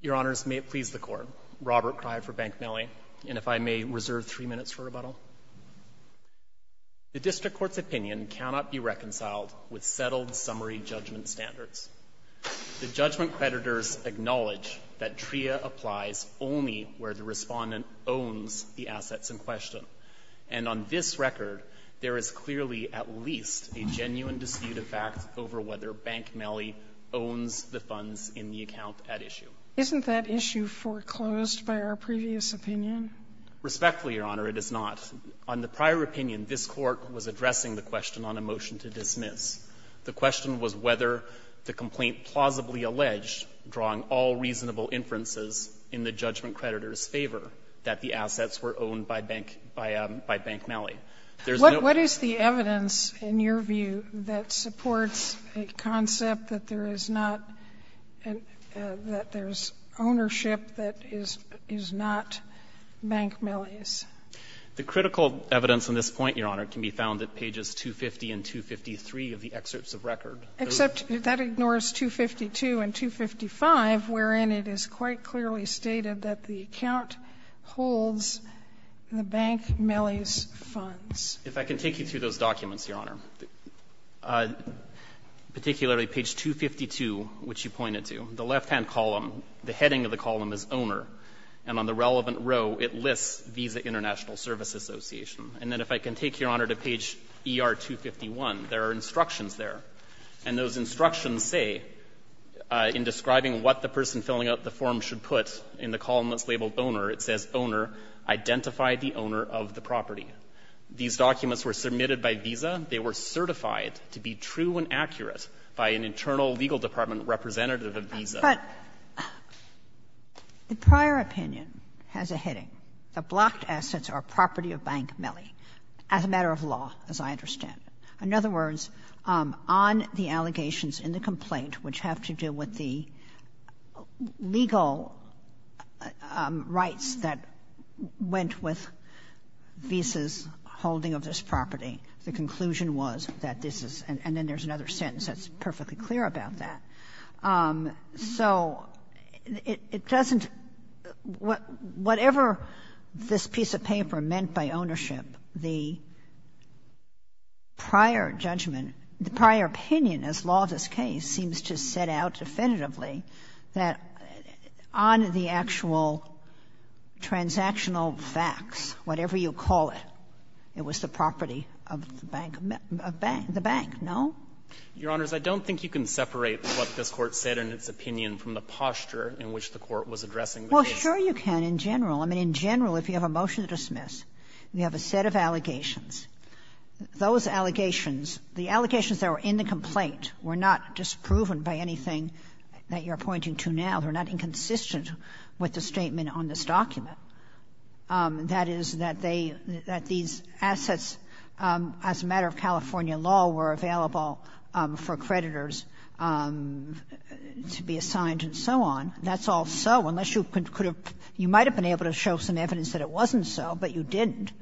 Your Honours, may it please the Court, Robert Cry for Bank Melli, and if I may reserve three minutes for rebuttal. The District Court's opinion cannot be reconciled with settled summary judgment standards. The judgment creditors acknowledge that TRIA applies only where the respondent owns the And on this record, there is clearly at least a genuine dispute of fact over whether Bank Melli owns the funds in the account at issue. Isn't that issue foreclosed by our previous opinion? Respectfully, Your Honor, it is not. On the prior opinion, this Court was addressing the question on a motion to dismiss. The question was whether the complaint plausibly alleged, drawing all reasonable inferences in the judgment creditors' favor, that the assets were owned by Bank Melli What is the evidence, in your view, that supports a concept that there is not an — that there is ownership that is not Bank Melli's? The critical evidence on this point, Your Honor, can be found at pages 250 and 253 of the excerpts of record. Except that ignores 252 and 255, wherein it is quite clearly stated that the account holds the Bank Melli's funds. If I can take you through those documents, Your Honor, particularly page 252, which you pointed to, the left-hand column, the heading of the column is Owner, and on the relevant row it lists Visa International Service Association. And then if I can take, Your Honor, to page ER 251, there are instructions there, and those instructions say, in describing what the person filling out the form should put in the column that's labeled Owner, it says, Owner, identify the owner of the property. These documents were submitted by Visa. They were certified to be true and accurate by an internal legal department representative of Visa. But the prior opinion has a heading that blocked assets are property of Bank Melli as a matter of law, as I understand it. In other words, on the allegations in the complaint which have to do with the legal rights that went with Visa's holding of this property, the conclusion was that this is and then there's another sentence that's perfectly clear about that. So it doesn't what ever this piece of paper meant by ownership, the prior judgment, the prior opinion as law of this case seems to set out definitively that I think on the actual transactional facts, whatever you call it, it was the property of Bank Melli, the bank, no? Your Honors, I don't think you can separate what this Court said in its opinion from the posture in which the Court was addressing the case. Well, sure you can in general. I mean, in general, if you have a motion to dismiss, you have a set of allegations. Those allegations, the allegations that were in the complaint were not disproven by anything that you're pointing to now. They're not inconsistent with the statement on this document. That is, that they, that these assets as a matter of California law were available for creditors to be assigned and so on. That's all so, unless you could have, you might have been able to show some evidence that it wasn't so, but you didn't.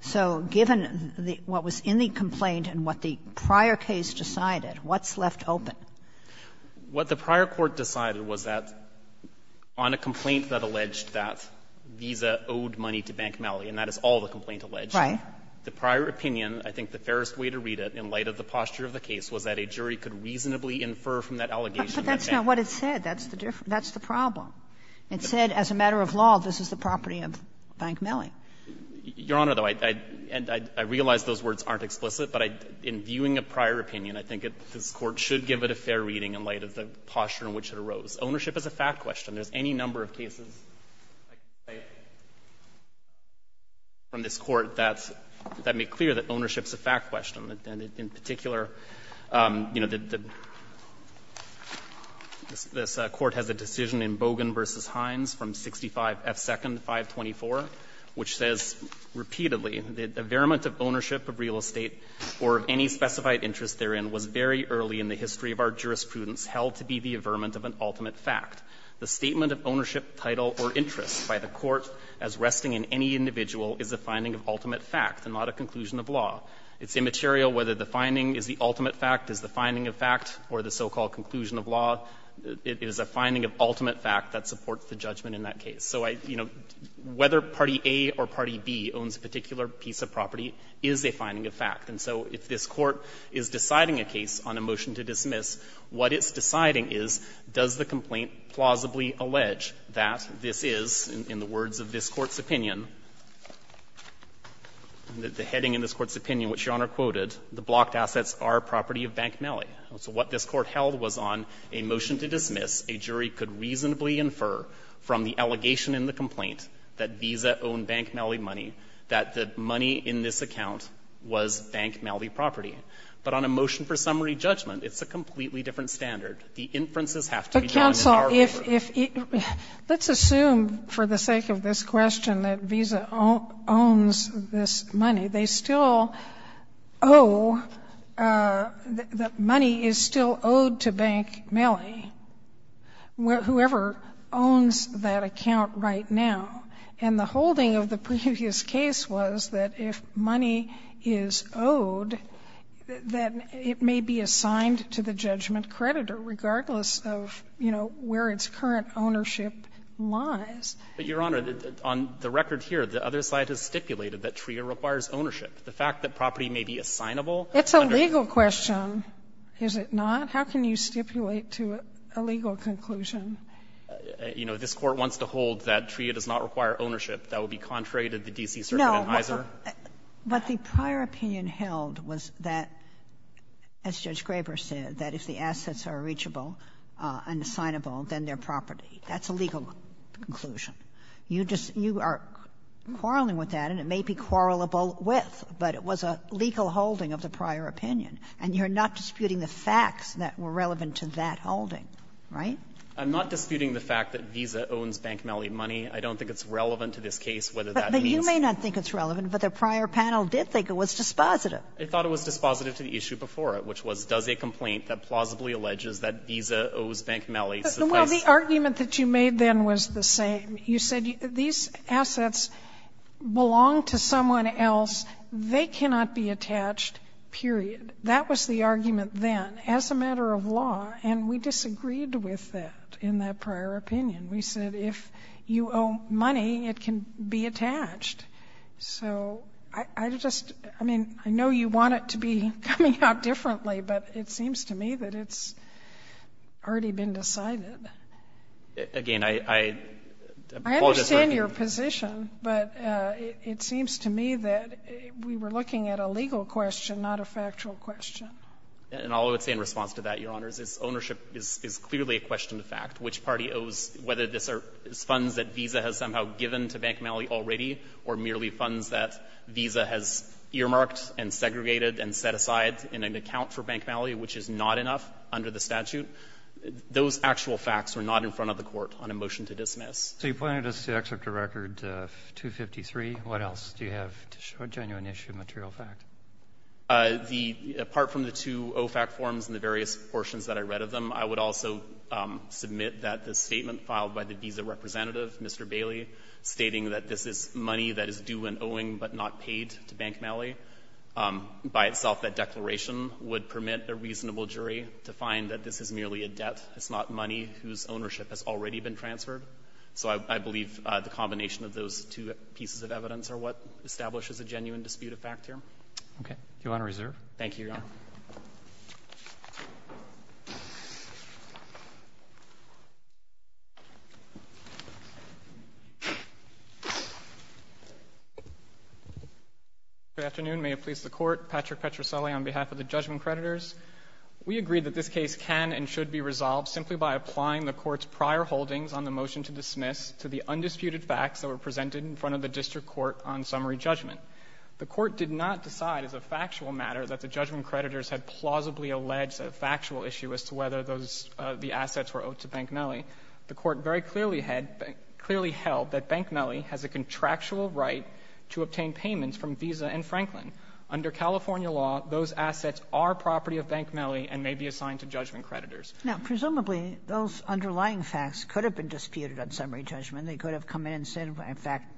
So given what was in the complaint and what the prior case decided, what's left open? What the prior court decided was that on a complaint that alleged that Visa owed money to Bank Melli, and that is all the complaint alleged, the prior opinion, I think the fairest way to read it in light of the posture of the case was that a jury could reasonably infer from that allegation that Bank Melli. But that's not what it said. That's the problem. It said, as a matter of law, this is the property of Bank Melli. Your Honor, though, I realize those words aren't explicit, but in viewing a prior opinion, I think this Court should give it a fair reading in light of the posture in which it arose. Ownership is a fact question. There's any number of cases, I can say, from this Court that's, that make clear that ownership is a fact question. In particular, you know, the, this Court has a decision in Bogan v. Hines from 65F2nd 524, which says repeatedly, the variament of ownership of real estate or of any specified interest therein was very early in the history of our jurisprudence held to be the averment of an ultimate fact. The statement of ownership, title, or interest by the Court as resting in any individual is a finding of ultimate fact and not a conclusion of law. It's immaterial whether the finding is the ultimate fact, is the finding of fact, or the so-called conclusion of law. It is a finding of ultimate fact that supports the judgment in that case. So I, you know, whether Party A or Party B owns a particular piece of property is a finding of fact. And so if this Court is deciding a case on a motion to dismiss, what it's deciding is, does the complaint plausibly allege that this is, in the words of this Court's opinion, the heading in this Court's opinion, which Your Honor quoted, the blocked assets are property of Bank Malley. So what this Court held was on a motion to dismiss, a jury could reasonably infer from the allegation in the complaint that Visa owned Bank Malley money, that the money in this account was Bank Malley property. But on a motion for summary judgment, it's a completely different standard. The inferences have to be drawn in our favor. Sotomayor, let's assume, for the sake of this question, that Visa owns this money. They still owe the money is still owed to Bank Malley, whoever owns that account right now. And the holding of the previous case was that if money is owed, that it may be assigned to the judgment creditor, regardless of, you know, where its current ownership lies. But, Your Honor, on the record here, the other side has stipulated that TRIA requires ownership. The fact that property may be assignable under the statute of limitations of the statute of limitations of the statute of limitations of the statute of limitations does that TRIA does not require ownership? That would be contrary to the D.C. circuit advertise? Kagan. No, what the prior opinion held was that, as Judge Graber said, that if the assets are reachable and assignable, then they're property. That's a legal conclusion. You are quarreling with that, and it may be quarrelable with, but it was a legal holding of the prior opinion. And you're not disputing the facts that were relevant to that holding, right? I'm not disputing the fact that Visa owns Bank Mellie money. I don't think it's relevant to this case whether that means But you may not think it's relevant, but the prior panel did think it was dispositive. I thought it was dispositive to the issue before it, which was, does a complaint that plausibly alleges that Visa owes Bank Mellie suffice? Well, the argument that you made then was the same. You said these assets belong to someone else. They cannot be attached, period. That was the argument then, as a matter of law. And we disagreed with that in that prior opinion. We said if you owe money, it can be attached. So I just — I mean, I know you want it to be coming out differently, but it seems to me that it's already been decided. Again, I apologize for — I understand your position, but it seems to me that we were looking at a legal question, not a factual question. And all I would say in response to that, Your Honors, is ownership is clearly a question of fact. Which party owes, whether this is funds that Visa has somehow given to Bank Mellie already or merely funds that Visa has earmarked and segregated and set aside in an account for Bank Mellie, which is not enough under the statute, those actual facts were not in front of the Court on a motion to dismiss. So you pointed us to Excerpt of Record 253. What else do you have to show genuine issue of material fact? Apart from the two OFAC forms and the various portions that I read of them, I would also submit that the statement filed by the Visa representative, Mr. Bailey, stating that this is money that is due and owing but not paid to Bank Mellie, by itself that declaration would permit a reasonable jury to find that this is merely a debt. It's not money whose ownership has already been transferred. So I believe the combination of those two pieces of evidence are what establishes a genuine dispute of fact here. Okay. Do you want to reserve? Thank you, Your Honor. Good afternoon. May it please the Court. Patrick Petroselli on behalf of the judgment creditors. We agree that this case can and should be resolved simply by applying the Court's in front of the district court on summary judgment. The Court did not decide as a factual matter that the judgment creditors had plausibly alleged a factual issue as to whether those assets were owed to Bank Mellie. The Court very clearly held that Bank Mellie has a contractual right to obtain payments from Visa and Franklin. Under California law, those assets are property of Bank Mellie and may be assigned to judgment creditors. Now, presumably, those underlying facts could have been disputed on summary judgment. They could have come in and said, in fact,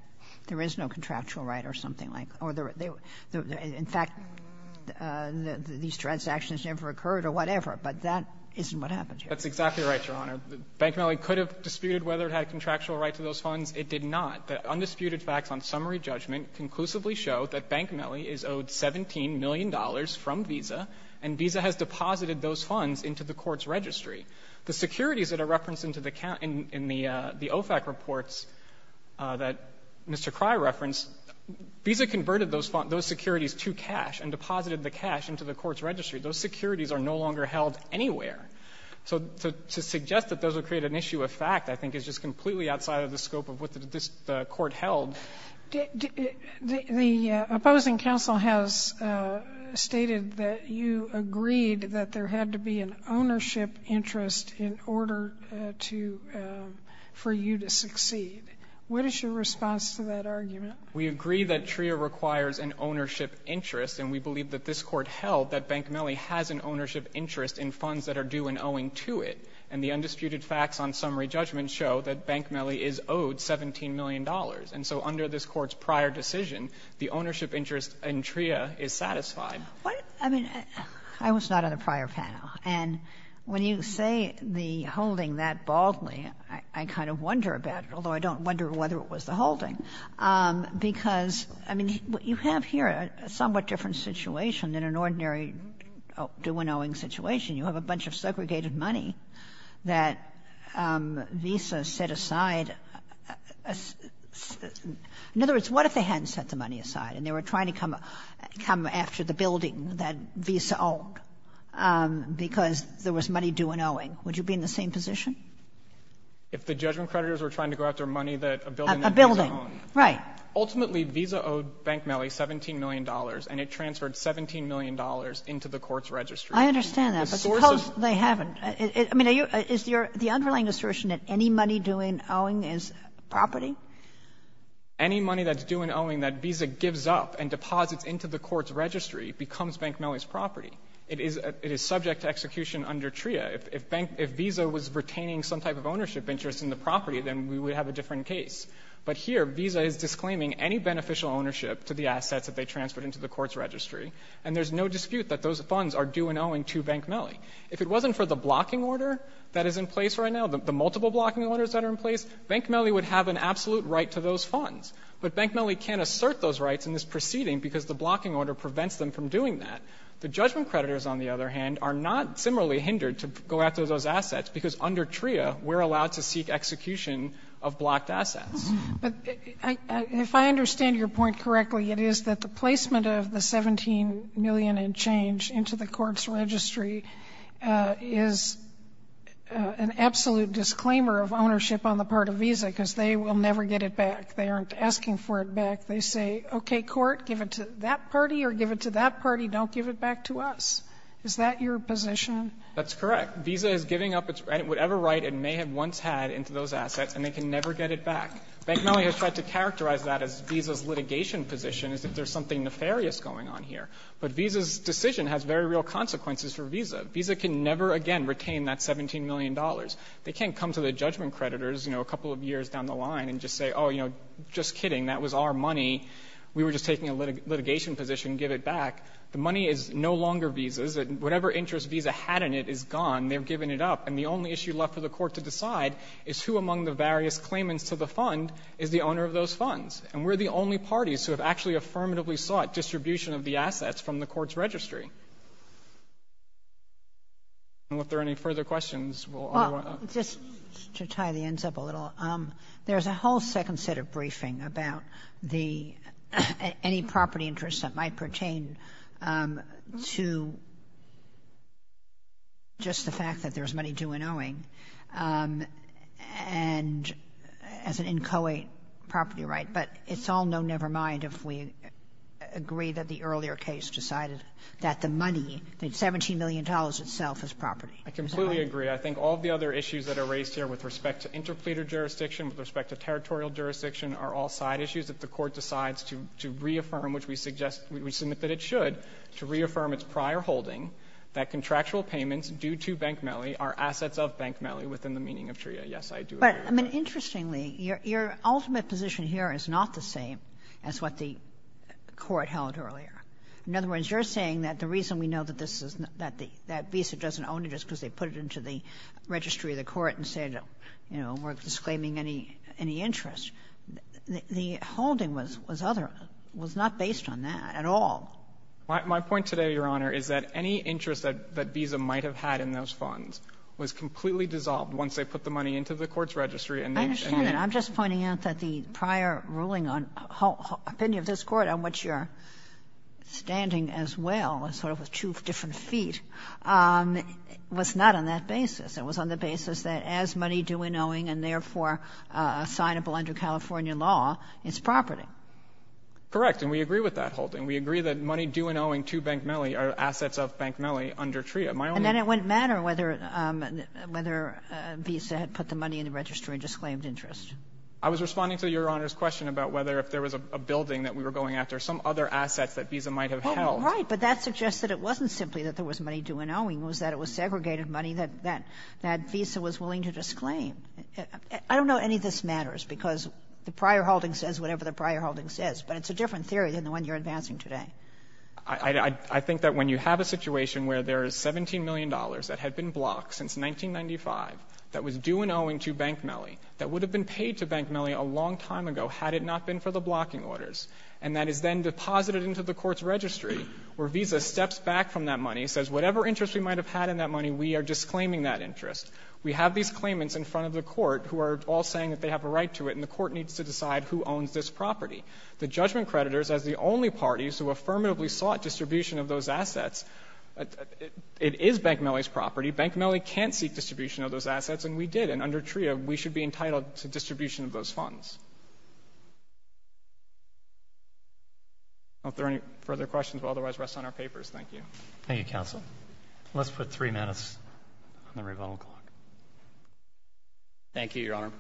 there is no contractual right or something like that. Or in fact, these transactions never occurred or whatever, but that isn't what happened here. That's exactly right, Your Honor. Bank Mellie could have disputed whether it had a contractual right to those funds. It did not. The undisputed facts on summary judgment conclusively show that Bank Mellie is owed $17 million from Visa, and Visa has deposited those funds into the Court's registry. The securities that are referenced in the OFAC reports that Mr. Crye referenced, Visa converted those securities to cash and deposited the cash into the Court's registry. Those securities are no longer held anywhere. So to suggest that those would create an issue of fact, I think, is just completely outside of the scope of what this Court held. The opposing counsel has stated that you agreed that there had to be an ownership interest in order to for you to succeed. What is your response to that argument? We agree that TRIA requires an ownership interest, and we believe that this Court held that Bank Mellie has an ownership interest in funds that are due and owing to it. And the undisputed facts on summary judgment show that Bank Mellie is owed $17 million. And so under this Court's prior decision, the ownership interest in TRIA is satisfied. I mean, I was not on the prior panel. And when you say the holding that baldly, I kind of wonder about it, although I don't wonder whether it was the holding. Because, I mean, you have here a somewhat different situation than an ordinary due and owing situation. You have a bunch of segregated money that Visa set aside. In other words, what if they hadn't set the money aside and they were trying to come after the building that Visa owned, because there was money due and owing? Would you be in the same position? If the judgment creditors were trying to go after money that a building that Visa owned. A building, right. Ultimately, Visa owed Bank Mellie $17 million, and it transferred $17 million into the Court's registry. I understand that, but suppose they haven't. I mean, is your the underlying assertion that any money due and owing is property? Any money that's due and owing that Visa gives up and deposits into the Court's registry becomes Bank Mellie's property. It is subject to execution under TRIA. If Visa was retaining some type of ownership interest in the property, then we would have a different case. But here Visa is disclaiming any beneficial ownership to the assets that they transferred into the Court's registry, and there's no dispute that those funds are due and owing to Bank Mellie. If it wasn't for the blocking order that is in place right now, the multiple blocking orders that are in place, Bank Mellie would have an absolute right to those funds. But Bank Mellie can't assert those rights in this proceeding because the blocking order prevents them from doing that. The judgment creditors, on the other hand, are not similarly hindered to go after those assets, because under TRIA we're allowed to seek execution of blocked assets. But if I understand your point correctly, it is that the placement of the $17 million in change into the Court's registry is an absolute disclaimer of ownership on the part of Visa, because they will never get it back. They aren't asking for it back. They say, okay, Court, give it to that party or give it to that party. Don't give it back to us. Is that your position? That's correct. Visa is giving up its right, whatever right it may have once had, into those assets, and they can never get it back. Bank Mellie has tried to characterize that as Visa's litigation position, as if there's something nefarious going on here. But Visa's decision has very real consequences for Visa. Visa can never again retain that $17 million. They can't come to the judgment creditors, you know, a couple of years down the line and just say, oh, you know, just kidding, that was our money, we were just taking a litigation position, give it back. The money is no longer Visa's. Whatever interest Visa had in it is gone. They've given it up. And the only issue left for the Court to decide is who among the various claimants to the fund is the owner of those funds. And we're the only parties who have actually affirmatively sought distribution of the assets from the Court's registry. I don't know if there are any further questions. Well, just to tie the ends up a little, there's a whole second set of briefing about the any property interests that might pertain to just the fact that there's money due in owing and as an inchoate property right. But it's all no never mind if we agree that the earlier case decided that the money, the $17 million itself is property. I completely agree. I think all of the other issues that are raised here with respect to interpleader jurisdiction, with respect to territorial jurisdiction are all side issues. If the Court decides to reaffirm, which we suggest, we submit that it should, to reaffirm its prior holding that contractual payments due to bank melee are assets of bank melee within the meaning of TRIA, yes, I do agree with that. I mean, interestingly, your ultimate position here is not the same as what the Court held earlier. In other words, you're saying that the reason we know that this is not that the visa doesn't own it is because they put it into the registry of the Court and said, you know, we're disclaiming any interest. The holding was other, was not based on that at all. My point today, Your Honor, is that any interest that Visa might have had in those funds was completely dissolved once they put the money into the Court's registry and named it. And I'm just pointing out that the prior ruling on the opinion of this Court, on which you're standing as well, as sort of two different feet, was not on that basis. It was on the basis that as money due and owing and, therefore, assignable under California law, it's property. Correct. And we agree with that holding. We agree that money due and owing to bank melee are assets of bank melee under TRIA. And then it wouldn't matter whether Visa had put the money in the registry and disclaimed interest. I was responding to Your Honor's question about whether if there was a building that we were going after, some other assets that Visa might have held. Oh, right. But that suggests that it wasn't simply that there was money due and owing. It was that it was segregated money that Visa was willing to disclaim. I don't know if any of this matters, because the prior holding says whatever the prior holding says. But it's a different theory than the one you're advancing today. I think that when you have a situation where there is $17 million that had been blocked since 1995, that was due and owing to bank melee, that would have been paid to bank melee a long time ago had it not been for the blocking orders, and that is then deposited into the Court's registry, where Visa steps back from that money, says whatever interest we might have had in that money, we are disclaiming that interest. We have these claimants in front of the Court who are all saying that they have a right to it, and the Court needs to decide who owns this property. The judgment creditors, as the only parties who affirmatively sought distribution of those assets, it is bank melee's property. Bank melee can't seek distribution of those assets, and we did. And under TRIA, we should be entitled to distribution of those funds. I don't know if there are any further questions, but otherwise, rest on our papers. Thank you. Thank you, counsel. Let's put three minutes on the rebuttal clock. Thank you, Your Honor.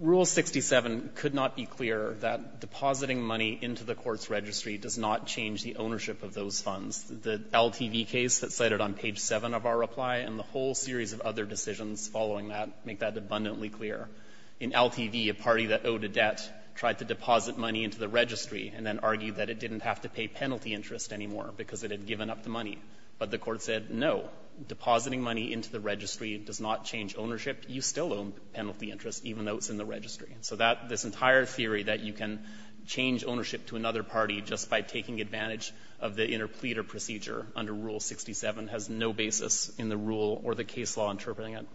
Rule 67 could not be clearer that depositing money into the Court's registry does not change the ownership of those funds. The LTV case that's cited on page 7 of our reply and the whole series of other decisions following that make that abundantly clear. In LTV, a party that owed a debt tried to deposit money into the registry and then argued that it didn't have to pay penalty interest anymore because it had given up the money. But the Court said, no, depositing money into the registry does not change ownership. You still owe penalty interest, even though it's in the registry. So this entire theory that you can change ownership to another party just by taking advantage of the interpleader procedure under Rule 67 has no basis in the rule or the case law interpreting it.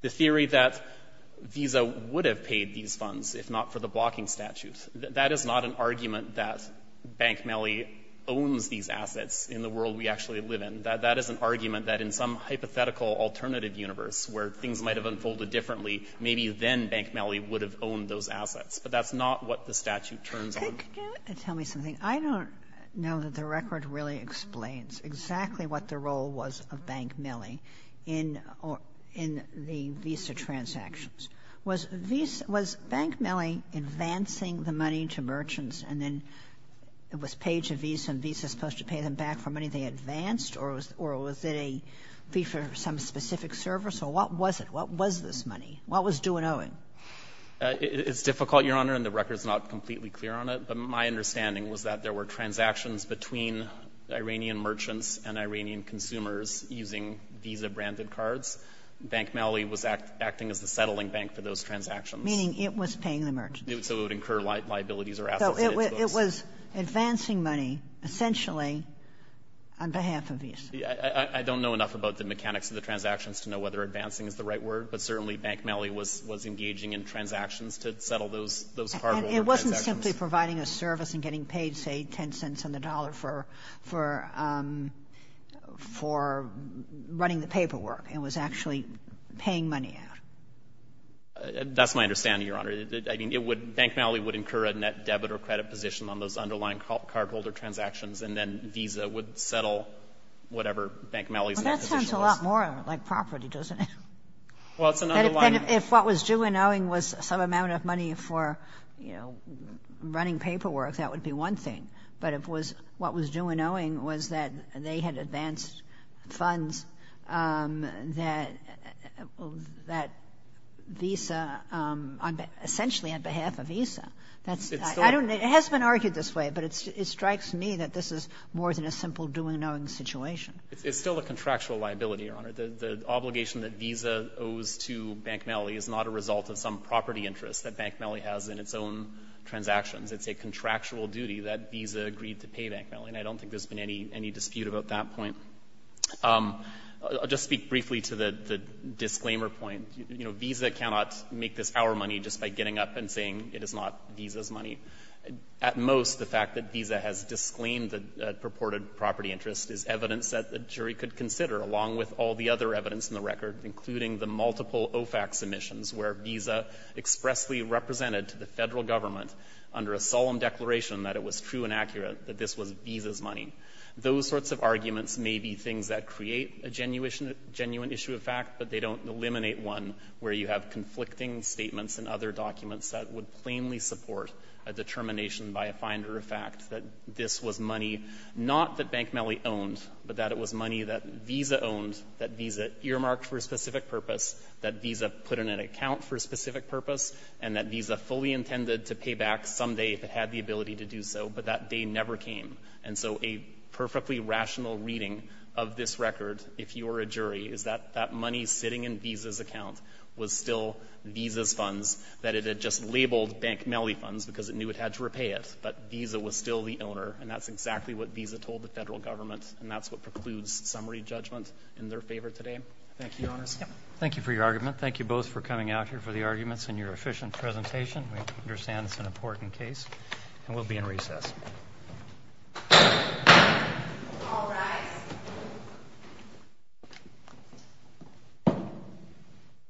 The theory that Visa would have paid these funds if not for the blocking statute, that is not an argument that bank melee owns these assets in the world we actually live in. That is an argument that in some hypothetical alternative universe where things might have unfolded differently, maybe then bank melee would have owned those assets. But that's not what the statute turns on. Kagan to tell me something. I don't know that the record really explains exactly what the role was of bank melee in or in the Visa transactions. Was Visa ‑‑ was bank melee advancing the money to merchants and then it was paid to Visa, and Visa is supposed to pay them back for money they advanced, or was it a fee for some specific service, or what was it, what was this money, what was due and owing? It's difficult, Your Honor, and the record is not completely clear on it, but my understanding was that there were transactions between Iranian merchants and Iranian consumers using Visa-branded cards. Bank melee was acting as the settling bank for those transactions. Meaning it was paying the merchants. So it would incur liabilities or assets. It was advancing money, essentially, on behalf of Visa. I don't know enough about the mechanics of the transactions to know whether advancing is the right word, but certainly bank melee was engaging in transactions to settle those cardholder transactions. And it wasn't simply providing a service and getting paid, say, 10 cents on the dollar for running the paperwork. It was actually paying money out. That's my understanding, Your Honor. I mean, it would, bank melee would incur a net debit or credit position on those underlying cardholder transactions, and then Visa would settle whatever bank melee is in that position. Well, that sounds a lot more like property, doesn't it? Well, it's an underlying. If what was due and owing was some amount of money for, you know, running paperwork, that would be one thing. But if it was, what was due and owing was that they had advanced funds that, that Visa, essentially on behalf of Visa, that's the other thing. It has been argued this way, but it strikes me that this is more than a simple due and owing situation. It's still a contractual liability, Your Honor. The obligation that Visa owes to bank melee is not a result of some property interest that bank melee has in its own transactions. It's a contractual duty that Visa agreed to pay bank melee. And I don't think there's been any dispute about that point. I'll just speak briefly to the disclaimer point. You know, Visa cannot make this our money just by getting up and saying it is not Visa's money. At most, the fact that Visa has disclaimed the purported property interest is evidence that a jury could consider, along with all the other evidence in the record, including the multiple OFAC submissions where Visa expressly represented to the Federal government under a solemn declaration that it was true and accurate that this was Visa's money. Those sorts of arguments may be things that create a genuine issue of fact, but they don't eliminate one where you have conflicting statements and other documents that would plainly support a determination by a finder of fact that this was money not that bank melee owned, but that it was money that Visa owned, that Visa earmarked for a specific purpose, that Visa put in an account for a specific purpose, and that Visa fully intended to pay back someday if it had the ability to do so. But that day never came. And so a perfectly rational reading of this record, if you are a jury, is that that money sitting in Visa's account was still Visa's funds, that it had just labeled bank melee funds because it knew it had to repay it, but Visa was still the owner, and that's exactly what Visa told the Federal government, and that's what precludes summary judgment in their favor today. Roberts. Thank you for your argument. Thank you both for coming out here for the arguments and your efficient presentation. We understand it's an important case, and we'll be in recess. All rise.